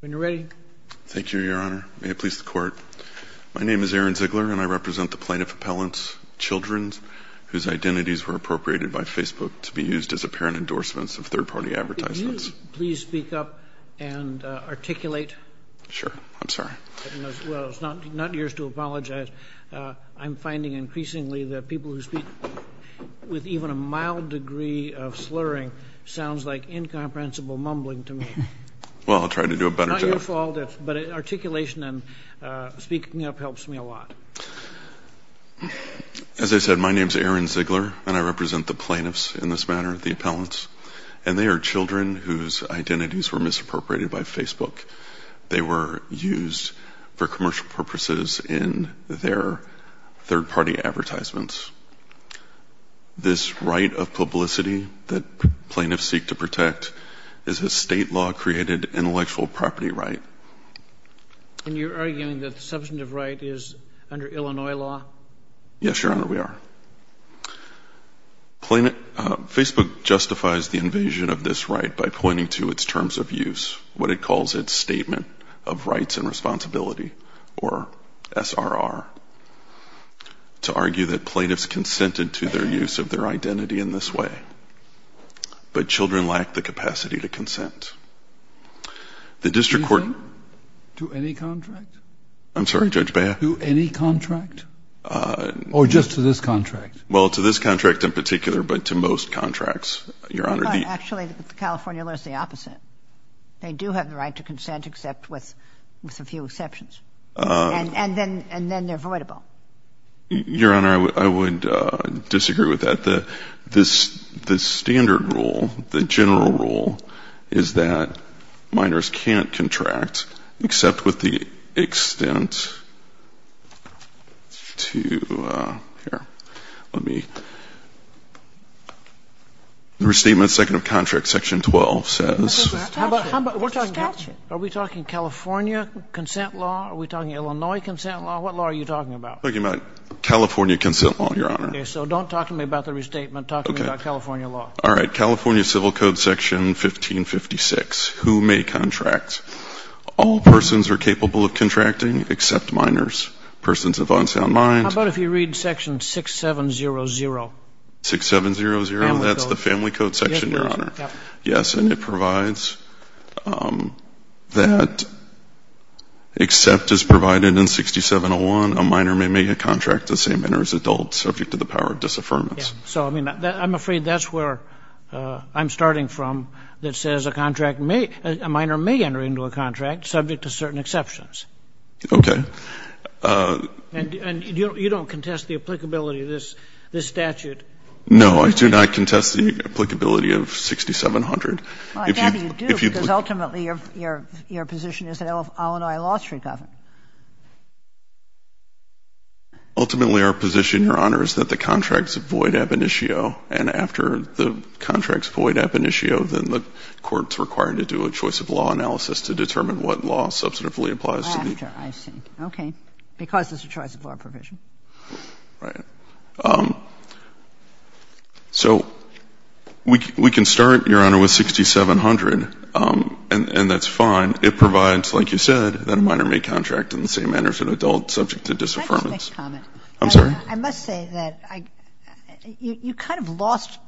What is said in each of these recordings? When you're ready. Thank you, Your Honor. May it please the Court. My name is Aaron Ziegler, and I represent the plaintiff appellant's children, whose identities were appropriated by Facebook to be used as apparent endorsements of third-party advertisements. Could you please speak up and articulate? Sure. I'm sorry. Well, it's not yours to apologize. I'm finding increasingly that people who speak with even a mild degree of slurring sounds like incomprehensible mumbling to me. Well, I'll try to do a better job. It's not your fault, but articulation and speaking up helps me a lot. As I said, my name is Aaron Ziegler, and I represent the plaintiffs in this matter, the appellants, and they are children whose identities were misappropriated by Facebook. They were used for commercial purposes in their third-party advertisements. This right of publicity that plaintiffs seek to protect is a state-law-created intellectual property right. And you're arguing that the substantive right is under Illinois law? Yes, Your Honor, we are. Facebook justifies the invasion of this right by pointing to its terms of use, what it calls its Statement of Rights and Responsibility, or SRR, to argue that plaintiffs consented to their use of their identity in this way, but children lack the capacity to consent. The district court — To any contract? I'm sorry, Judge Beha? To any contract? Or just to this contract? Well, to this contract in particular, but to most contracts, Your Honor, the — No, actually, the California law is the opposite. They do have the right to consent, except with a few exceptions. And then they're voidable. Your Honor, I would disagree with that. The standard rule, the general rule, is that minors can't contract, except with the extent to — here, let me — the Restatement, Second of Contract, Section 12 says — It's a statute. Are we talking California consent law? Are we talking Illinois consent law? What law are you talking about? I'm talking about California consent law, Your Honor. Okay, so don't talk to me about the Restatement. Talk to me about California law. All right. California Civil Code, Section 1556, Who May Contract? All persons are capable of contracting, except minors. Persons of unsound mind — How about if you read Section 6700? 6700? Family Code. That's the Family Code section, Your Honor? Yes, it is. It says that, except as provided in 6701, a minor may make a contract the same manner as adults subject to the power of disaffirmance. So, I mean, I'm afraid that's where I'm starting from, that says a contract may — a minor may enter into a contract subject to certain exceptions. Okay. And you don't contest the applicability of this statute? No, I do not contest the applicability of 6700. Well, I'm glad you do, because ultimately, your position is that Illinois law should govern. Ultimately, our position, Your Honor, is that the contracts avoid ab initio, and after the contracts avoid ab initio, then the court's required to do a choice of law analysis to determine what law substantively applies to the — After, I see. Okay. Because there's a choice of law provision. Right. So we can start, Your Honor, with 6700, and that's fine. It provides, like you said, that a minor may contract in the same manner as an adult subject to disaffirmance. Can I just make a comment? I'm sorry? I must say that you kind of lost,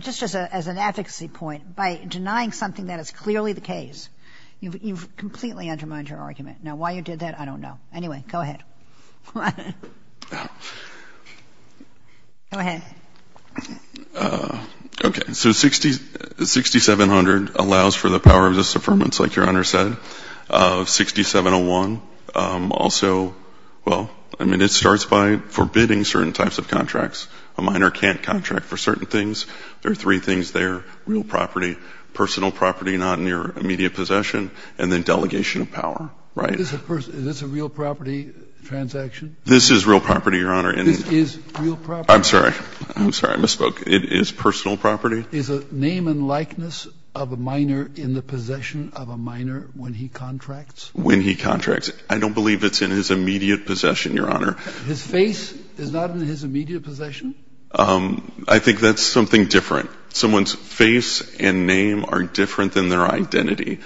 just as an advocacy point, by denying something that is clearly the case. You've completely undermined your argument. Now, why you did that, I don't know. Anyway, go ahead. Okay. So 6700 allows for the power of disaffirmance, like Your Honor said. 6701 also — well, I mean, it starts by forbidding certain types of contracts. A minor can't contract for certain things. There are three things there, real property, personal property not in your immediate possession, and then delegation of power. Right? Is this a real property? This is real property, Your Honor. This is real property? I'm sorry. I'm sorry. I misspoke. It is personal property. Is a name and likeness of a minor in the possession of a minor when he contracts? When he contracts. I don't believe it's in his immediate possession, Your Honor. His face is not in his immediate possession? I think that's something different. Someone's face and name are different than their identity.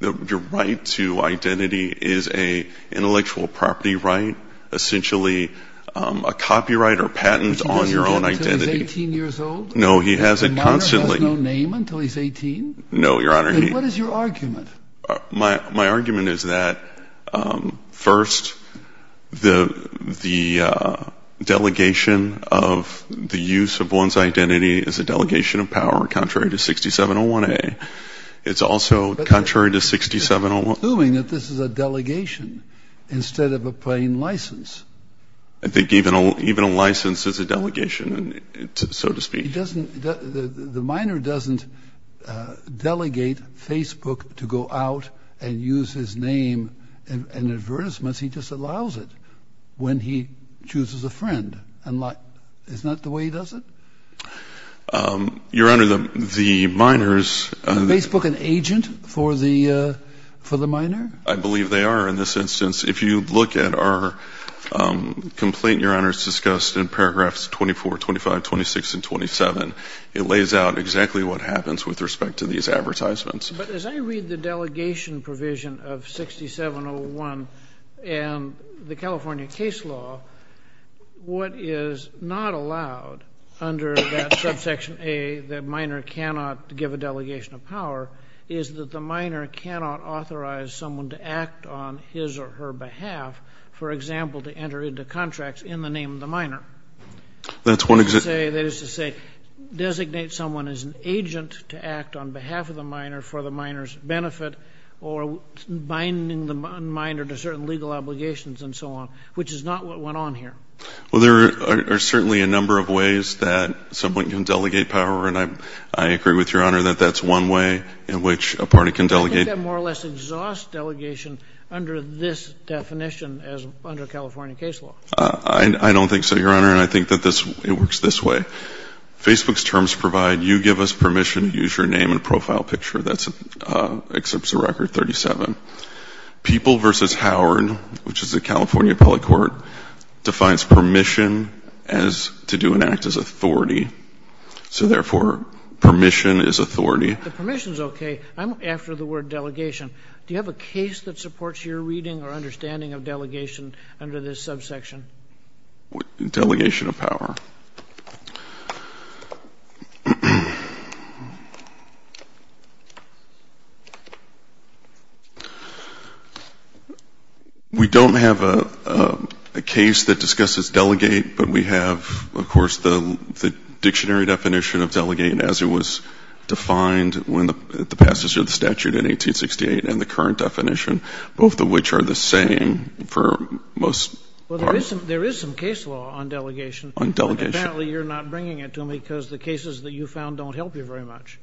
Your right to identity is an intellectual property right, essentially a copyright or patent on your own identity. Which he doesn't get until he's 18 years old? No, he has it constantly. A minor has no name until he's 18? No, Your Honor. What is your argument? My argument is that, first, the delegation of the use of one's identity is a delegation of power, contrary to 6701A. It's also contrary to 6701… But you're assuming that this is a delegation instead of a plain license. I think even a license is a delegation, so to speak. The minor doesn't delegate Facebook to go out and use his name in advertisements. He just allows it when he chooses a friend. Isn't that the way he does it? Your Honor, the minors… Is Facebook an agent for the minor? I believe they are in this instance. If you look at our complaint, Your Honor, it's discussed in paragraphs 24, 25, 26, and 27. It lays out exactly what happens with respect to these advertisements. But as I read the delegation provision of 6701 and the California case law, what is not allowed under that Subsection A that a minor cannot give a delegation of power is that the minor cannot authorize someone to act on his or her behalf, for example, to enter into contracts in the name of the minor. That's one… That is to say, designate someone as an agent to act on behalf of the minor for the minor's benefit or binding the minor to certain legal obligations and so on, which is not what went on here. Well, there are certainly a number of ways that someone can delegate power, and I agree with Your Honor that that's one way in which a party can delegate. I think that more or less exhausts delegation under this definition as under California case law. I don't think so, Your Honor, and I think that it works this way. Facebook's terms provide, you give us permission to use your name and profile picture. That accepts a record 37. People v. Howard, which is the California appellate court, defines permission as to do and act as authority. So therefore, permission is authority. The permission is okay. I'm after the word delegation. Do you have a case that supports your reading or understanding of delegation under this subsection? Delegation of power. We don't have a case that discusses delegate, but we have, of course, the dictionary definition of delegate as it was defined when the passage of the statute in 1868 and the current definition, both of which are the same for most parts. Well, there is some case law on delegation. On delegation. Apparently, you're not bringing it to me because the cases that you found don't help you very much.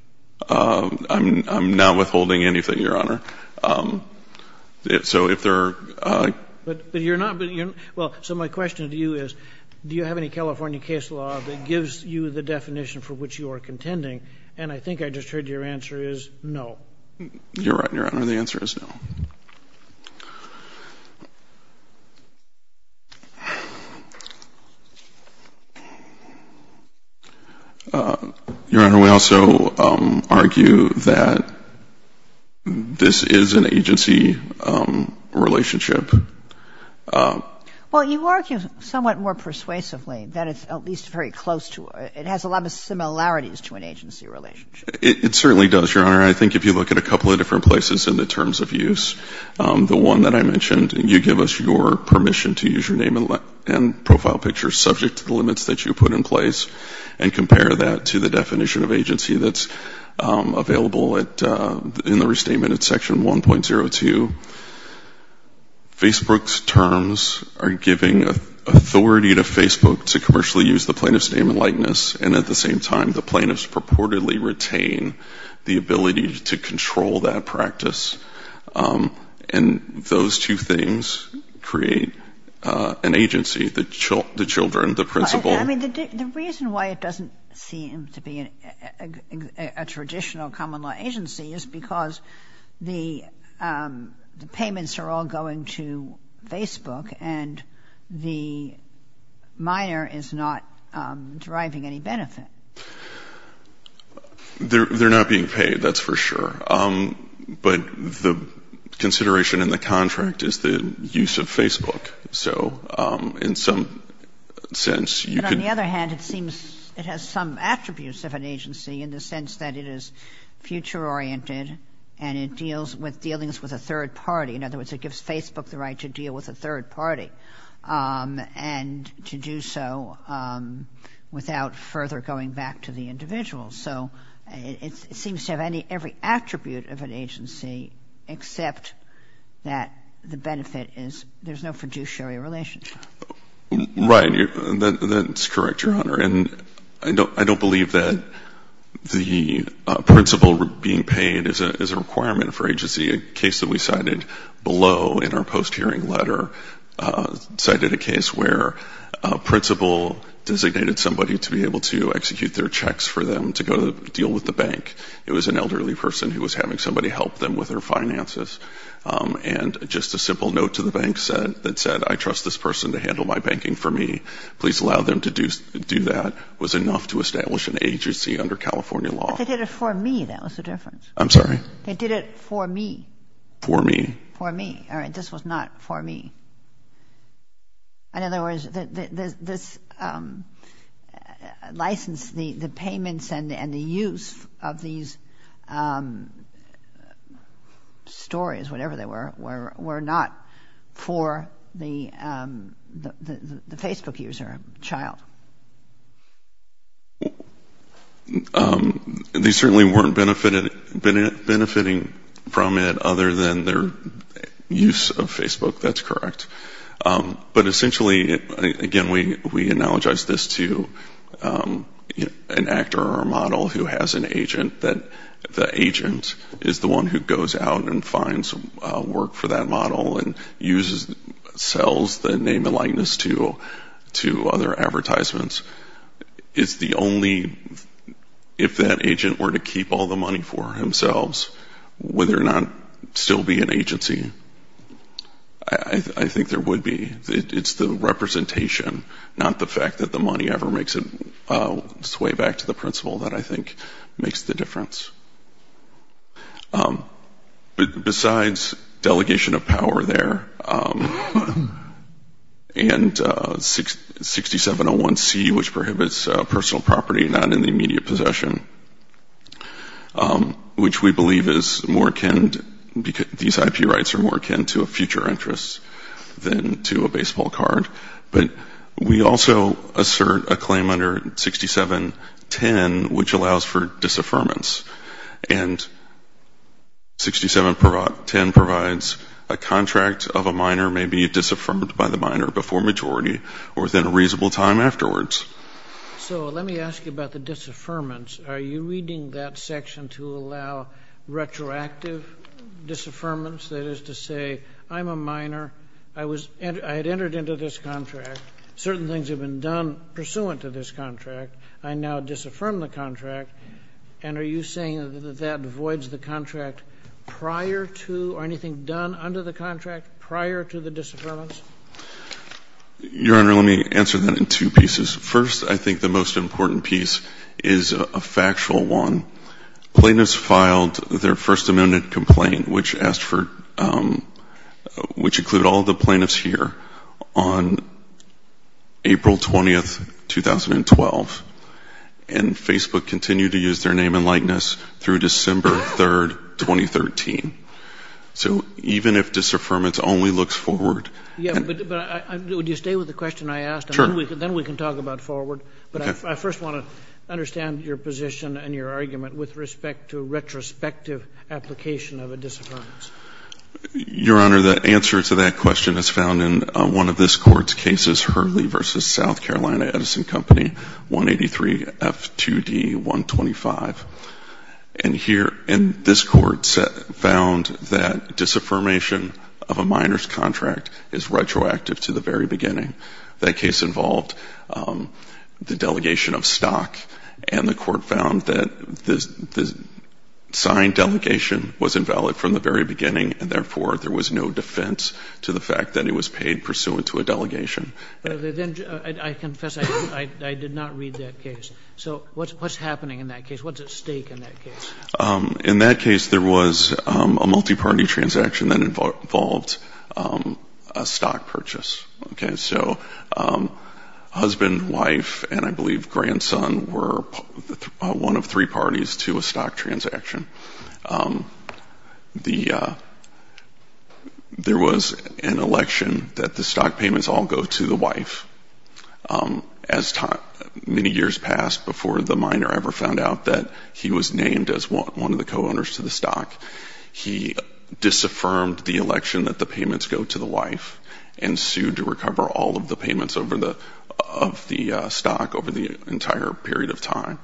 I'm not withholding anything, Your Honor. So if there are — But you're not — well, so my question to you is do you have any California case law that gives you the definition for which you are contending? And I think I just heard your answer is no. You're right, Your Honor. The answer is no. Your Honor, we also argue that this is an agency relationship. Well, you argue somewhat more persuasively that it's at least very close to — it has a lot of similarities to an agency relationship. It certainly does, Your Honor. I think if you look at a couple of different places in the terms of use, the one that I mentioned, you give us your permission to use your name and profile picture subject to the limits that you put in place and compare that to the definition of agency that's available in the restatement at Section 1.02. Facebook's terms are giving authority to Facebook to commercially use the plaintiff's name and likeness, and at the same time, the plaintiffs purportedly retain the ability to control that practice. And those two things create an agency, the children, the principal — a traditional common law agency is because the payments are all going to Facebook and the minor is not deriving any benefit. They're not being paid, that's for sure. But the consideration in the contract is the use of Facebook. So in some sense, you could — you could have an agency in the sense that it is future-oriented and it deals with dealings with a third party. In other words, it gives Facebook the right to deal with a third party and to do so without further going back to the individual. So it seems to have every attribute of an agency except that the benefit is there's no fiduciary relationship. Right. That's correct, Your Honor. And I don't believe that the principal being paid is a requirement for agency. A case that we cited below in our post-hearing letter cited a case where a principal designated somebody to be able to execute their checks for them to go deal with the bank. It was an elderly person who was having somebody help them with their finances. And just a simple note to the bank that said, I trust this person to handle my banking for me. Please allow them to do that was enough to establish an agency under California law. But they did it for me. That was the difference. I'm sorry? They did it for me. For me. For me. All right. This was not for me. In other words, this license, the payments and the use of these stories, whatever they were, were not for the Facebook user child. They certainly weren't benefiting from it other than their use of Facebook. That's correct. But essentially, again, we analogize this to an actor or a model who has an agent that the agent is the one who goes out and finds work for that model and sells the name and likeness to other advertisements. It's the only, if that agent were to keep all the money for himself, would there not still be an agency? I think there would be. It's the representation, not the fact that the money ever makes it way back to the principal that I think makes the difference. Besides delegation of power there and 6701C, which prohibits personal property not in the immediate possession, which we believe is more akin, these IP rights are more akin to a future interest than to a baseball card. But we also assert a claim under 6710, which allows for disaffirmance. And 6710 provides a contract of a minor may be disaffirmed by the minor before majority or within a reasonable time afterwards. So let me ask you about the disaffirmance. Are you reading that section to allow retroactive disaffirmance? That is to say, I'm a minor. I had entered into this contract. Certain things have been done pursuant to this contract. I now disaffirm the contract. And are you saying that that voids the contract prior to or anything done under the contract prior to the disaffirmance? Your Honor, let me answer that in two pieces. First, I think the most important piece is a factual one. Plaintiffs filed their First Amendment complaint, which asked for ‑‑ which included all the plaintiffs here, on April 20, 2012. And Facebook continued to use their name and likeness through December 3, 2013. So even if disaffirmance only looks forward ‑‑ Yeah, but would you stay with the question I asked? Sure. And then we can talk about forward. Okay. I first want to understand your position and your argument with respect to retrospective application of a disaffirmance. Your Honor, the answer to that question is found in one of this Court's cases, Hurley v. South Carolina Edison Company, 183 F2D 125. And here in this Court found that disaffirmation of a minor's contract is retroactive to the very beginning. That case involved the delegation of stock. And the Court found that the signed delegation was invalid from the very beginning, and therefore there was no defense to the fact that it was paid pursuant to a delegation. I confess I did not read that case. So what's happening in that case? What's at stake in that case? In that case, there was a multiparty transaction that involved a stock purchase. Okay, so husband, wife, and I believe grandson were one of three parties to a stock transaction. There was an election that the stock payments all go to the wife. As many years passed before the minor ever found out that he was named as one of the co-owners to the stock, he disaffirmed the election that the payments go to the wife and sued to recover all of the payments of the stock over the entire period of time.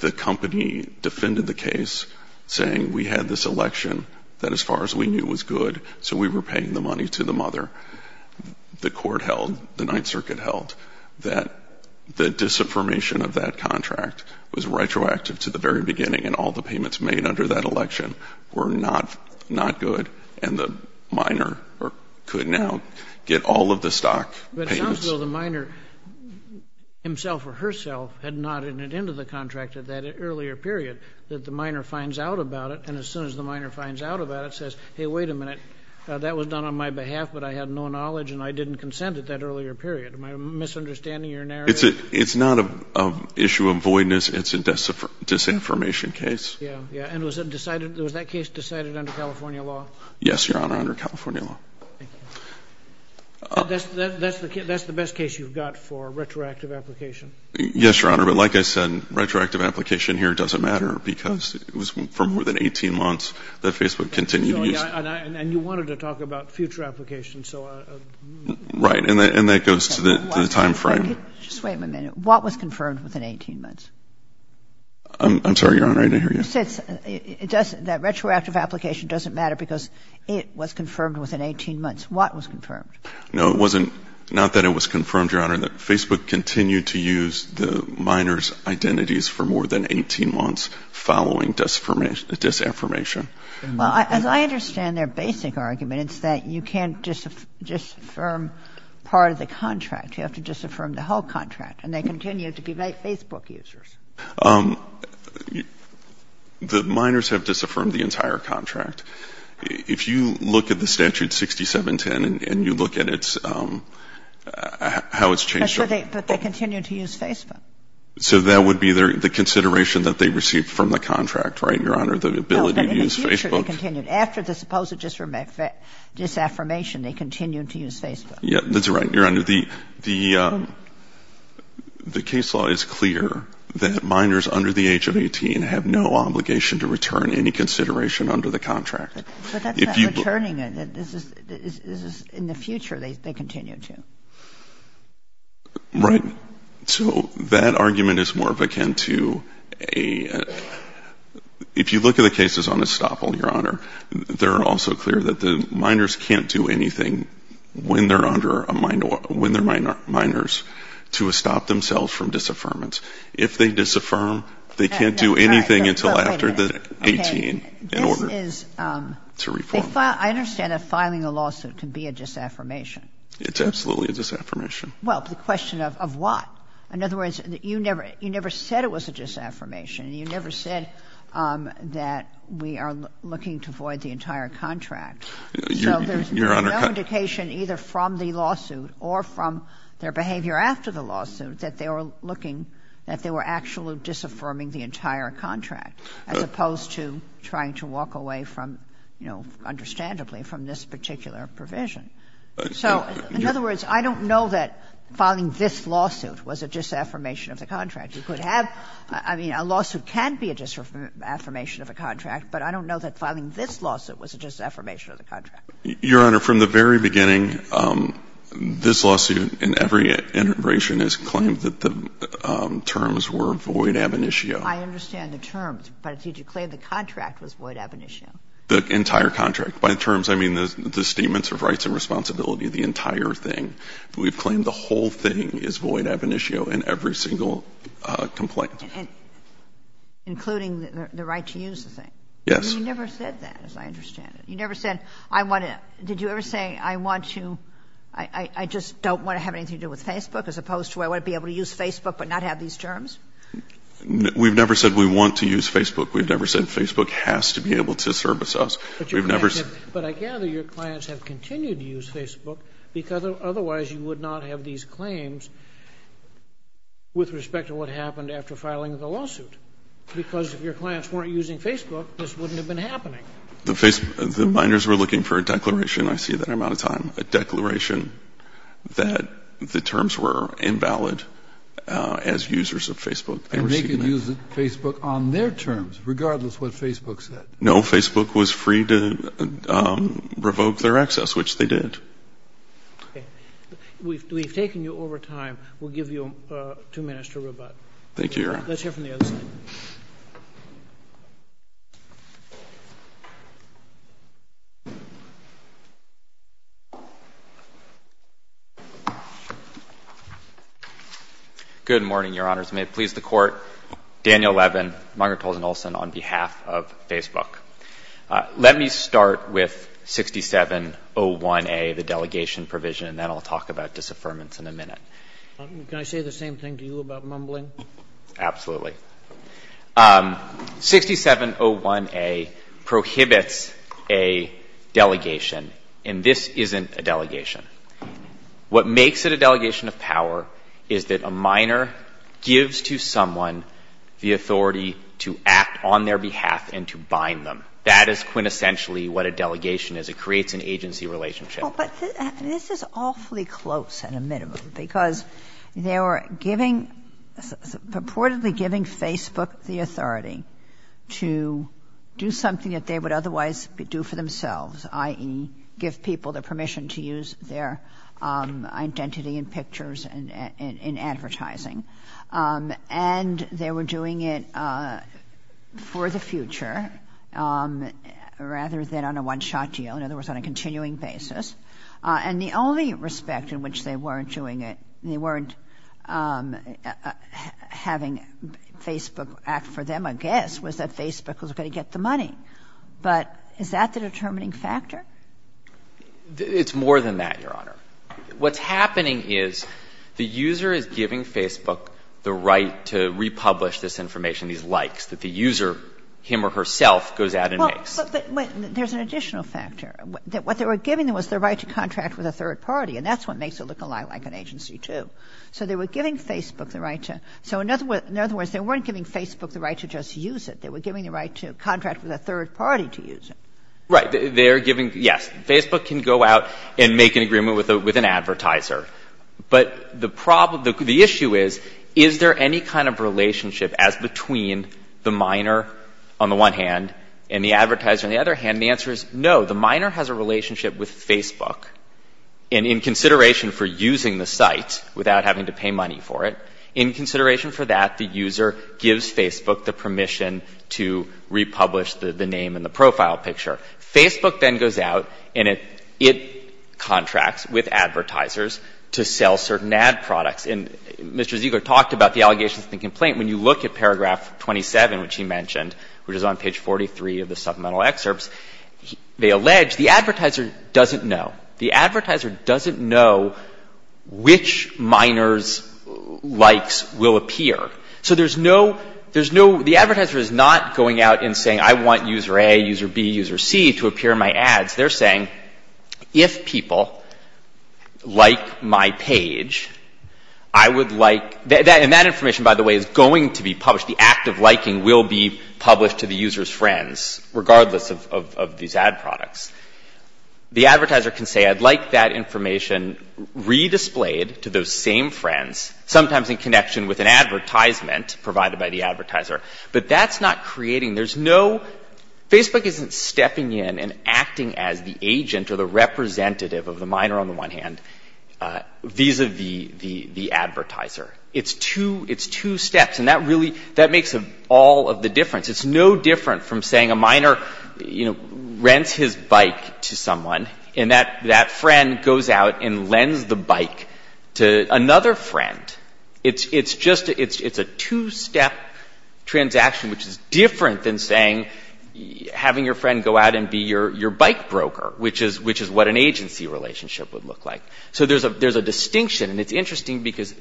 The company defended the case, saying, we had this election that as far as we knew was good, so we were paying the money to the mother. The Court held, the Ninth Circuit held, that the disaffirmation of that contract was retroactive to the very beginning and all the payments made under that election were not good, and the minor could now get all of the stock payments. But it sounds as though the minor himself or herself had nodded into the contract at that earlier period, that the minor finds out about it, and as soon as the minor finds out about it, says, hey, wait a minute, that was done on my behalf, but I had no knowledge, and I didn't consent at that earlier period. Am I misunderstanding your narrative? It's not an issue of voidness, it's a disaffirmation case. And was that case decided under California law? Yes, Your Honor, under California law. That's the best case you've got for retroactive application? Yes, Your Honor, but like I said, retroactive application here doesn't matter because it was for more than 18 months that Facebook continued to use it. And you wanted to talk about future applications. Right, and that goes to the time frame. Just wait a minute. What was confirmed within 18 months? I'm sorry, Your Honor, I didn't hear you. You said it doesn't, that retroactive application doesn't matter because it was confirmed within 18 months. What was confirmed? No, it wasn't, not that it was confirmed, Your Honor, that Facebook continued to use the minor's identities for more than 18 months following disaffirmation. Well, as I understand their basic argument, it's that you can't disaffirm part of the contract. You have to disaffirm the whole contract, and they continue to be Facebook users. The minors have disaffirmed the entire contract. If you look at the statute 6710 and you look at its, how it's changed over time. But they continue to use Facebook. So that would be the consideration that they received from the contract, right, Your Honor, the ability to use Facebook? No, but in the future they continued. After the supposed disaffirmation, they continued to use Facebook. Yeah, that's right, Your Honor. The case law is clear that minors under the age of 18 have no obligation to return any consideration under the contract. But that's not returning it. This is in the future they continue to. Right. So that argument is more of akin to a, if you look at the cases on estoppel, Your Honor, they're also clear that the minors can't do anything when they're minors to stop themselves from disaffirmance. If they disaffirm, they can't do anything until after 18 in order to reform. I understand that filing a lawsuit can be a disaffirmation. It's absolutely a disaffirmation. Well, the question of what? In other words, you never said it was a disaffirmation. You never said that we are looking to void the entire contract. Your Honor. So there's no indication either from the lawsuit or from their behavior after the lawsuit that they were looking, that they were actually disaffirming the entire contract, as opposed to trying to walk away from, you know, understandably, from this particular provision. So, in other words, I don't know that filing this lawsuit was a disaffirmation of the contract. You could have, I mean, a lawsuit can be a disaffirmation of a contract, but I don't know that filing this lawsuit was a disaffirmation of the contract. Your Honor, from the very beginning, this lawsuit, in every iteration, has claimed that the terms were void ab initio. I understand the terms, but did you claim the contract was void ab initio? The entire contract. By terms, I mean the statements of rights and responsibility, the entire thing. We've claimed the whole thing is void ab initio in every single complaint. And including the right to use the thing? Yes. You never said that, as I understand it. You never said, I want to — did you ever say, I want to — I just don't want to have anything to do with Facebook, as opposed to I want to be able to use Facebook but not have these terms? We've never said we want to use Facebook. We've never said Facebook has to be able to service us. We've never said— But I gather your clients have continued to use Facebook, because otherwise you would not have these claims with respect to what happened after filing the lawsuit. Because if your clients weren't using Facebook, this wouldn't have been happening. The binders were looking for a declaration. I see that I'm out of time. A declaration that the terms were invalid as users of Facebook. And they could use Facebook on their terms, regardless what Facebook said. No, Facebook was free to revoke their access, which they did. Okay. We've taken you over time. We'll give you two minutes to rebut. Thank you, Your Honor. Let's hear from the other side. Good morning, Your Honors. May it please the Court. Daniel Levin, Margaret Tolson Olson, on behalf of Facebook. Let me start with 6701A, the delegation provision, and then I'll talk about disaffirmance in a minute. Can I say the same thing to you about mumbling? Absolutely. 6701A prohibits a delegation, and this isn't a delegation. What makes it a delegation of power is that a minor gives to someone the authority to act on their behalf and to bind them. That is quintessentially what a delegation is. It creates an agency relationship. But this is awfully close in a minute because they were giving, purportedly giving Facebook the authority to do something that they would otherwise do for themselves, i.e., give people the permission to use their identity in pictures and in advertising. And they were doing it for the future rather than on a one-shot deal, in other words, on a continuing basis. And the only respect in which they weren't doing it, they weren't having Facebook act for them, I guess, was that Facebook was going to get the money. But is that the determining factor? It's more than that, Your Honor. What's happening is the user is giving Facebook the right to republish this information, these likes, that the user, him or herself, goes out and makes. But there's an additional factor. What they were giving them was the right to contract with a third party, and that's what makes it look a lot like an agency, too. So they were giving Facebook the right to — so in other words, they weren't giving Facebook the right to just use it. They were giving the right to contract with a third party to use it. Right. They're giving — yes. Facebook can go out and make an agreement with an advertiser. But the problem — the issue is, is there any kind of relationship as between the minor on the one hand and the advertiser on the other hand? The answer is no. The minor has a relationship with Facebook. And in consideration for using the site without having to pay money for it, in consideration for that, the user gives Facebook the permission to republish the name and the profile picture. Facebook then goes out and it contracts with advertisers to sell certain ad products. And Mr. Ziegler talked about the allegations and the complaint. When you look at paragraph 27, which he mentioned, which is on page 43 of the supplemental excerpts, they allege the advertiser doesn't know. The advertiser doesn't know which minor's likes will appear. So there's no — there's no — the advertiser is not going out and saying, I want user A, user B, user C to appear in my ads. They're saying, if people like my page, I would like — and that information, by the way, is going to be published. The act of liking will be published to the user's friends, regardless of these ad products. The advertiser can say, I'd like that information redisplayed to those same friends, sometimes in connection with an advertisement provided by the advertiser. But that's not creating — there's no — Facebook isn't stepping in and acting as the agent or the representative of the minor on the one hand, vis-à-vis the advertiser. It's two — it's two steps. And that really — that makes all of the difference. It's no different from saying a minor, you know, rents his bike to someone, and that friend goes out and lends the bike to another friend. It's just — it's a two-step transaction, which is different than saying having your friend go out and be your bike broker, which is what an agency relationship would look like. So there's a distinction. And it's interesting because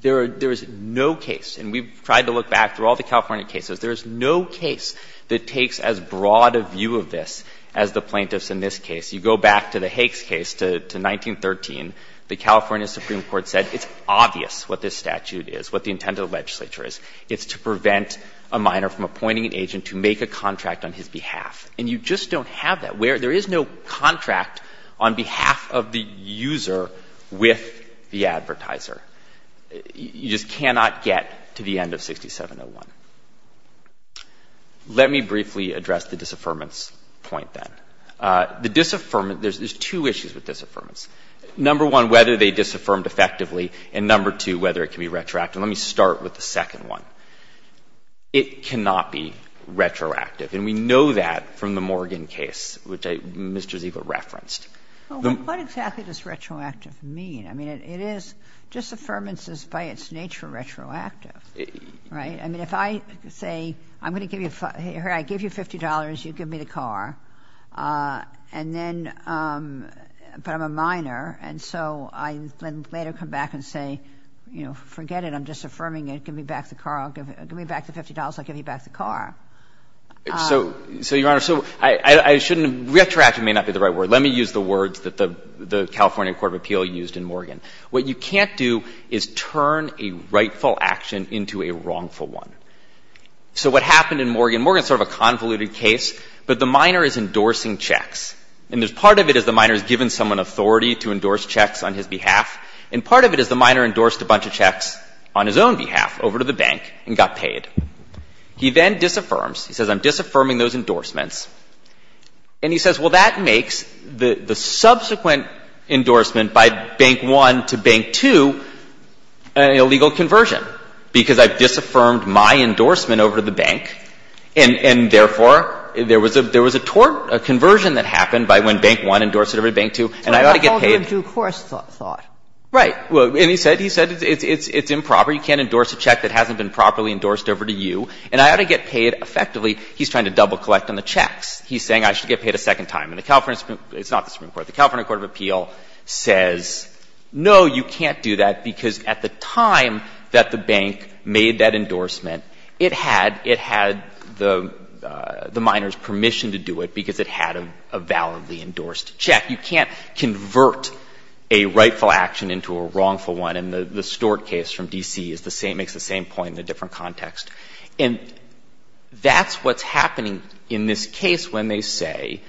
there is no case, and we've tried to look back through all the California cases, there is no case that takes as broad a view of this as the plaintiffs in this case. You go back to the Hakes case to 1913. The California Supreme Court said it's obvious what this statute is, what the intent of the legislature is. It's to prevent a minor from appointing an agent to make a contract on his behalf. And you just don't have that where there is no contract on behalf of the user with the advertiser. You just cannot get to the end of 6701. Let me briefly address the disaffirmance point, then. The disaffirmance — there's two issues with disaffirmance. Number one, whether they disaffirmed effectively, and number two, whether it can be retroactive. Let me start with the second one. It cannot be retroactive. And we know that from the Morgan case, which Mr. Ziegler referenced. What exactly does retroactive mean? I mean, it is — disaffirmance is, by its nature, retroactive. Right? I mean, if I say, I'm going to give you — here, I give you $50, you give me the car, and then — but I'm a minor, and so I later come back and say, you know, forget it, I'm disaffirming it, give me back the car, give me back the $50, I'll give you back the car. So, Your Honor, so I shouldn't — retroactive may not be the right word. Let me use the words that the California Court of Appeal used in Morgan. What you can't do is turn a rightful action into a wrongful one. So, what happened in Morgan — Morgan is sort of a convoluted case, but the minor is endorsing checks. And there's — part of it is the minor has given someone authority to endorse checks on his behalf, and part of it is the minor endorsed a bunch of checks on his own behalf over to the bank and got paid. He then disaffirms. He says, I'm disaffirming those endorsements. And he says, well, that makes the subsequent endorsement by Bank 1 to Bank 2 an illegal conversion, because I've disaffirmed my endorsement over to the bank, and therefore there was a — there was a tort — a conversion that happened by when Bank 1 endorsed it over to Bank 2, and I ought to get paid. But that falls into a course thought. Right. And he said — he said it's improper. You can't endorse a check that hasn't been properly endorsed over to you, and I ought to get paid. Effectively, he's trying to double-collect on the checks. He's saying I should get paid a second time. And the California — it's not the Supreme Court. The California Court of Appeal says, no, you can't do that, because at the time that the bank made that endorsement, it had — it had the minor's permission to do it because it had a validly endorsed check. You can't convert a rightful action into a wrongful one. And the Stewart case from D.C. is the same — makes the same point in a different context. And that's what's happening in this case when they say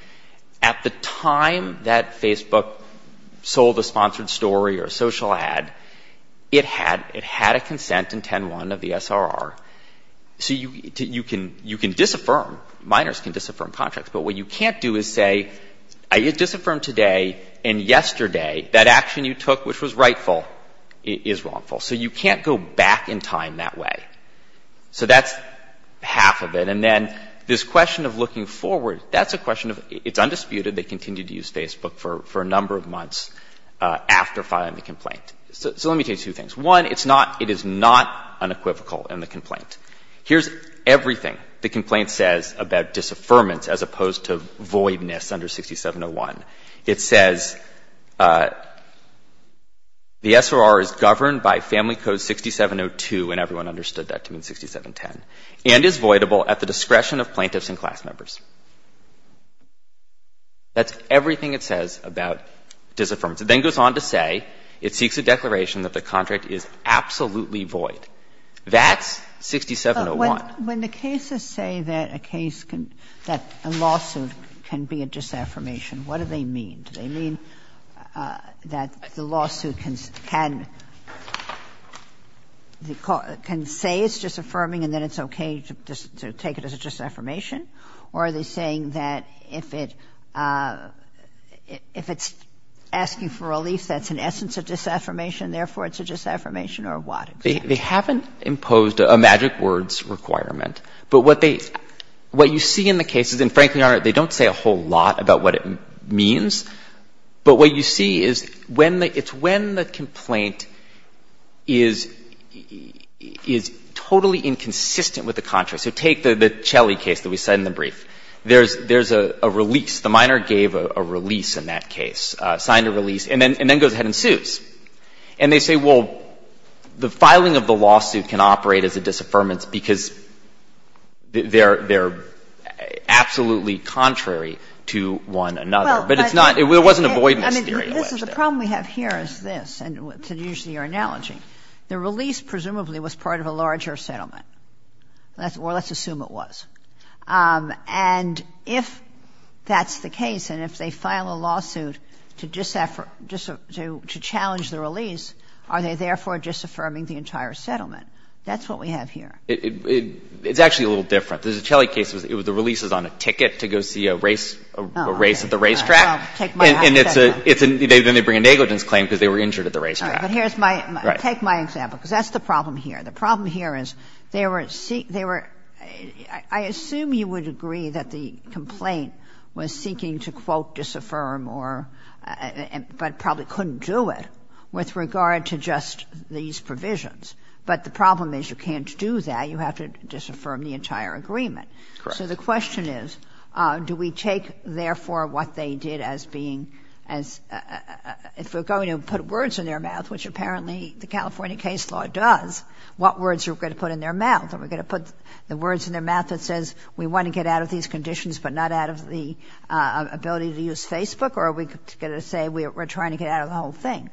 at the time that Facebook sold a sponsored story or a social ad, it had — it had a consent in 10.1 of the S.R.R. So you can — you can disaffirm. Minors can disaffirm contracts. But what you can't do is say I disaffirmed today, and yesterday that action you took which was rightful is wrongful. So you can't go back in time that way. So that's half of it. And then this question of looking forward, that's a question of — it's undisputed they continued to use Facebook for a number of months after filing the complaint. So let me tell you two things. One, it's not — it is not unequivocal in the complaint. Here's everything the complaint says about disaffirmance as opposed to voidness under 6701. It says the S.R.R. is governed by Family Code 6702, and everyone understood that to mean 6710, and is voidable at the discretion of plaintiffs and class members. That's everything it says about disaffirmance. It then goes on to say it seeks a declaration that the contract is absolutely void. That's 6701. Kagan. When the cases say that a case can — that a lawsuit can be a disaffirmation, what do they mean? Do they mean that the lawsuit can — can say it's disaffirming and then it's okay to take it as a disaffirmation? Or are they saying that if it — if it's asking for relief, that's an essence of disaffirmation, therefore it's a disaffirmation, or what? They haven't imposed a magic words requirement, but what they — what you see in the cases, and frankly, Your Honor, they don't say a whole lot about what it means, but what you see is when the — it's when the complaint is — is totally inconsistent with the contract. So take the — the Chelly case that we said in the brief. There's — there's a release. The minor gave a release in that case, signed a release, and then — and then goes ahead and sues. And they say, well, the filing of the lawsuit can operate as a disaffirmance because they're — they're absolutely contrary to one another. But it's not — it wasn't avoidance theory. I mean, this is — the problem we have here is this, and to use your analogy, the release presumably was part of a larger settlement, or let's assume it was. And if that's the case, and if they file a lawsuit to disaff — to challenge the release, are they therefore disaffirming the entire settlement? That's what we have here. It — it's actually a little different. The Chelly case, it was — the release was on a ticket to go see a race — a race at the racetrack. Well, take my — And it's a — it's a — then they bring a negligence claim because they were injured at the racetrack. All right. But here's my — take my example, because that's the problem here. The problem here is they were — I assume you would agree that the complaint was seeking to, quote, disaffirm or — but probably couldn't do it with regard to just these provisions. But the problem is you can't do that. You have to disaffirm the entire agreement. Correct. So the question is, do we take, therefore, what they did as being as — if we're going to put words in their mouth, which apparently the California case law does, what words are we going to put in their mouth? Are we going to put the words in their mouth that says we want to get out of these conditions but not out of the ability to use Facebook? Or are we going to say we're trying to get out of the whole thing?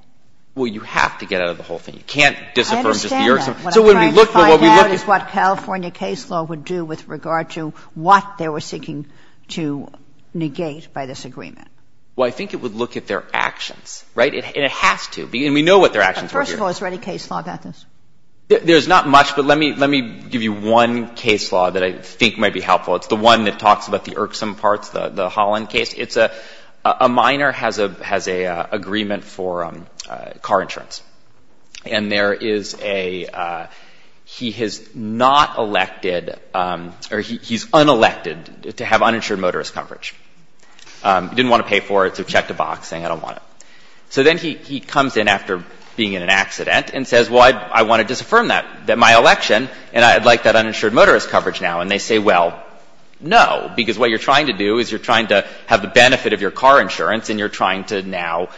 Well, you have to get out of the whole thing. You can't disaffirm just the — I understand that. What I'm trying to find out is what California case law would do with regard to what they were seeking to negate by this agreement. Well, I think it would look at their actions. Right? And it has to. And we know what their actions were here. The first of all, is there any case law about this? There's not much, but let me — let me give you one case law that I think might be helpful. It's the one that talks about the irksome parts, the Holland case. It's a — a minor has a — has a agreement for car insurance. And there is a — he has not elected — or he's unelected to have uninsured motorist coverage. He didn't want to pay for it, so he checked a box saying, I don't want it. So then he — he comes in after being in an accident and says, well, I — I want to disaffirm that — that my election, and I'd like that uninsured motorist coverage now. And they say, well, no. Because what you're trying to do is you're trying to have the benefit of your car insurance, and you're trying to now,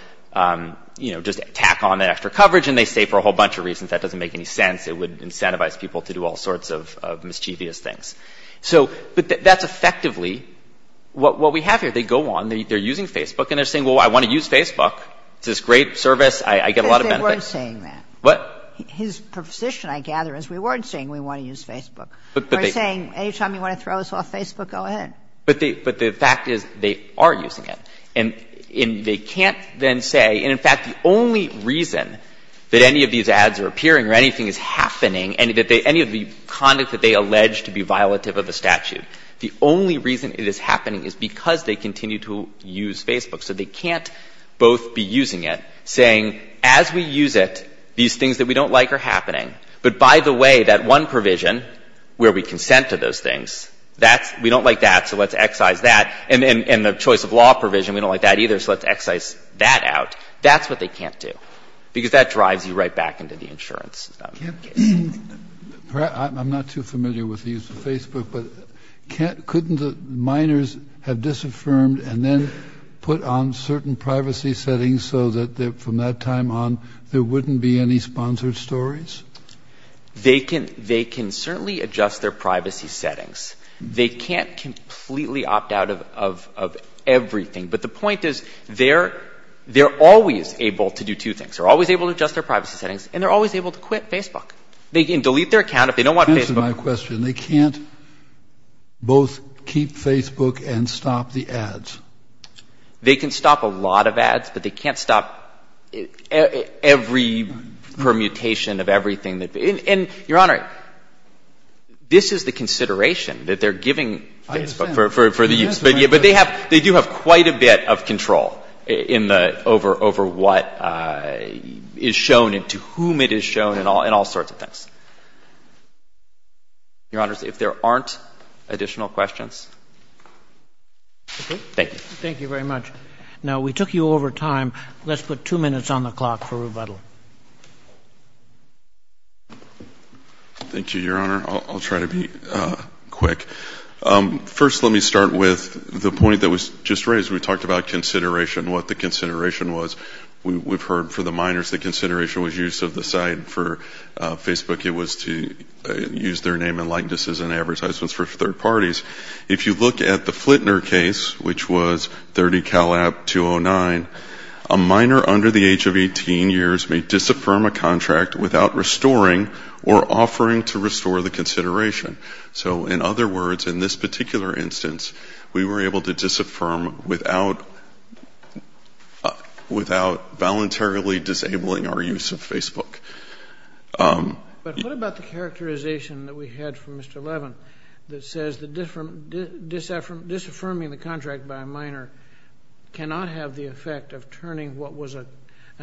you know, just tack on that extra coverage. And they say, for a whole bunch of reasons, that doesn't make any sense. It would incentivize people to do all sorts of mischievous things. So — but that's effectively what we have here. They go on. They're using Facebook. And they're saying, well, I want to use Facebook. It's this great service. I get a lot of benefits. But they weren't saying that. What? His position, I gather, is we weren't saying we want to use Facebook. But they — We're saying, any time you want to throw us off Facebook, go ahead. But they — but the fact is, they are using it. And they can't then say — and, in fact, the only reason that any of these ads are appearing or anything is happening and that they — any of the conduct that they allege to be violative of the statute, the only reason it is happening is because they continue to use Facebook. So they can't both be using it, saying, as we use it, these things that we don't like are happening. But by the way, that one provision where we consent to those things, that's — we don't like that, so let's excise that. And the choice of law provision, we don't like that either, so let's excise that out. That's what they can't do, because that drives you right back into the insurance stuff. Kennedy. I'm not too familiar with the use of Facebook. But couldn't the minors have disaffirmed and then put on certain privacy settings so that from that time on, there wouldn't be any sponsored stories? They can certainly adjust their privacy settings. They can't completely opt out of everything. But the point is, they're always able to do two things. They're always able to adjust their privacy settings, and they're always able to quit They can delete their account if they don't want Facebook. Answer my question. They can't both keep Facebook and stop the ads. They can stop a lot of ads, but they can't stop every permutation of everything that — and, Your Honor, this is the consideration that they're giving Facebook for the use. I understand. But they do have quite a bit of control in the — over what is shown and to whom it is shown and all sorts of things. Your Honors, if there aren't additional questions — Okay. Thank you. Thank you very much. Now, we took you over time. Let's put two minutes on the clock for rebuttal. Thank you, Your Honor. I'll try to be quick. First, let me start with the point that was just raised. We talked about consideration, what the consideration was. We've heard for the minors the consideration was use of the site for Facebook use their name and likenesses in advertisements for third parties. If you look at the Flitner case, which was 30 Calab 209, a minor under the age of 18 years may disaffirm a contract without restoring or offering to restore the consideration. So, in other words, in this particular instance, we were able to disaffirm without voluntarily disabling our use of Facebook. But what about the characterization that we had from Mr. Levin that says disaffirming the contract by a minor cannot have the effect of turning what was an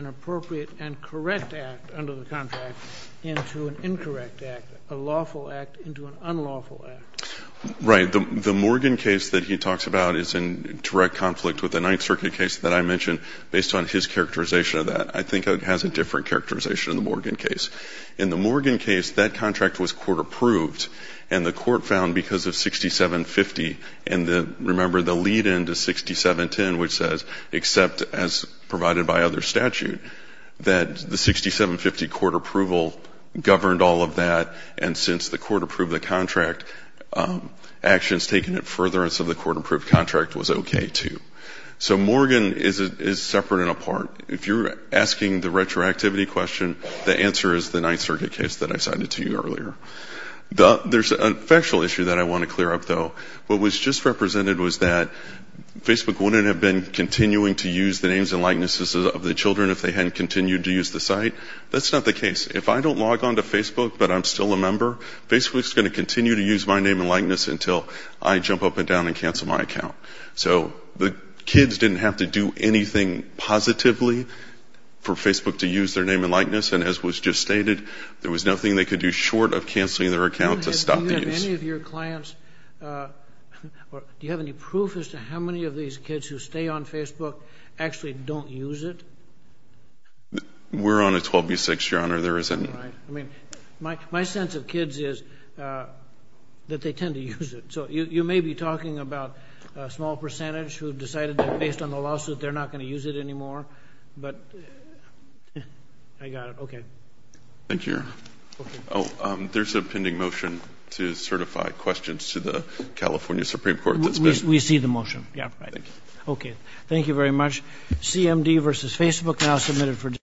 appropriate and correct act under the contract into an incorrect act, a lawful act into an unlawful act? Right. The Morgan case that he talks about is in direct conflict with the Ninth Circuit case that I mentioned based on his characterization of that. I think it has a different characterization in the Morgan case. In the Morgan case, that contract was court approved, and the court found because of 6750 and the, remember, the lead-in to 6710, which says, except as provided by other statute, that the 6750 court approval governed all of that, and since the court approved the contract, actions taken in furtherance of the court-approved contract was okay, too. So Morgan is separate and apart. If you're asking the retroactivity question, the answer is the Ninth Circuit case that I cited to you earlier. There's a factual issue that I want to clear up, though. What was just represented was that Facebook wouldn't have been continuing to use the names and likenesses of the children if they hadn't continued to use the site. That's not the case. If I don't log on to Facebook but I'm still a member, Facebook's going to continue to use my name and likeness until I jump up and down and cancel my account. So the kids didn't have to do anything positively for Facebook to use their name and likeness, and as was just stated, there was nothing they could do short of canceling their account to stop the use. Do you have any of your clients or do you have any proof as to how many of these kids who stay on Facebook actually don't use it? We're on a 12-by-6, Your Honor. There isn't. All right. I mean, my sense of kids is that they tend to use it. So you may be talking about a small percentage who decided that based on the lawsuit they're not going to use it anymore. But I got it. Okay. Thank you, Your Honor. Oh, there's a pending motion to certify questions to the California Supreme Court. We see the motion. Yeah, right. Thank you. Okay. Thank you very much. CMD versus Facebook now submitted for discussion.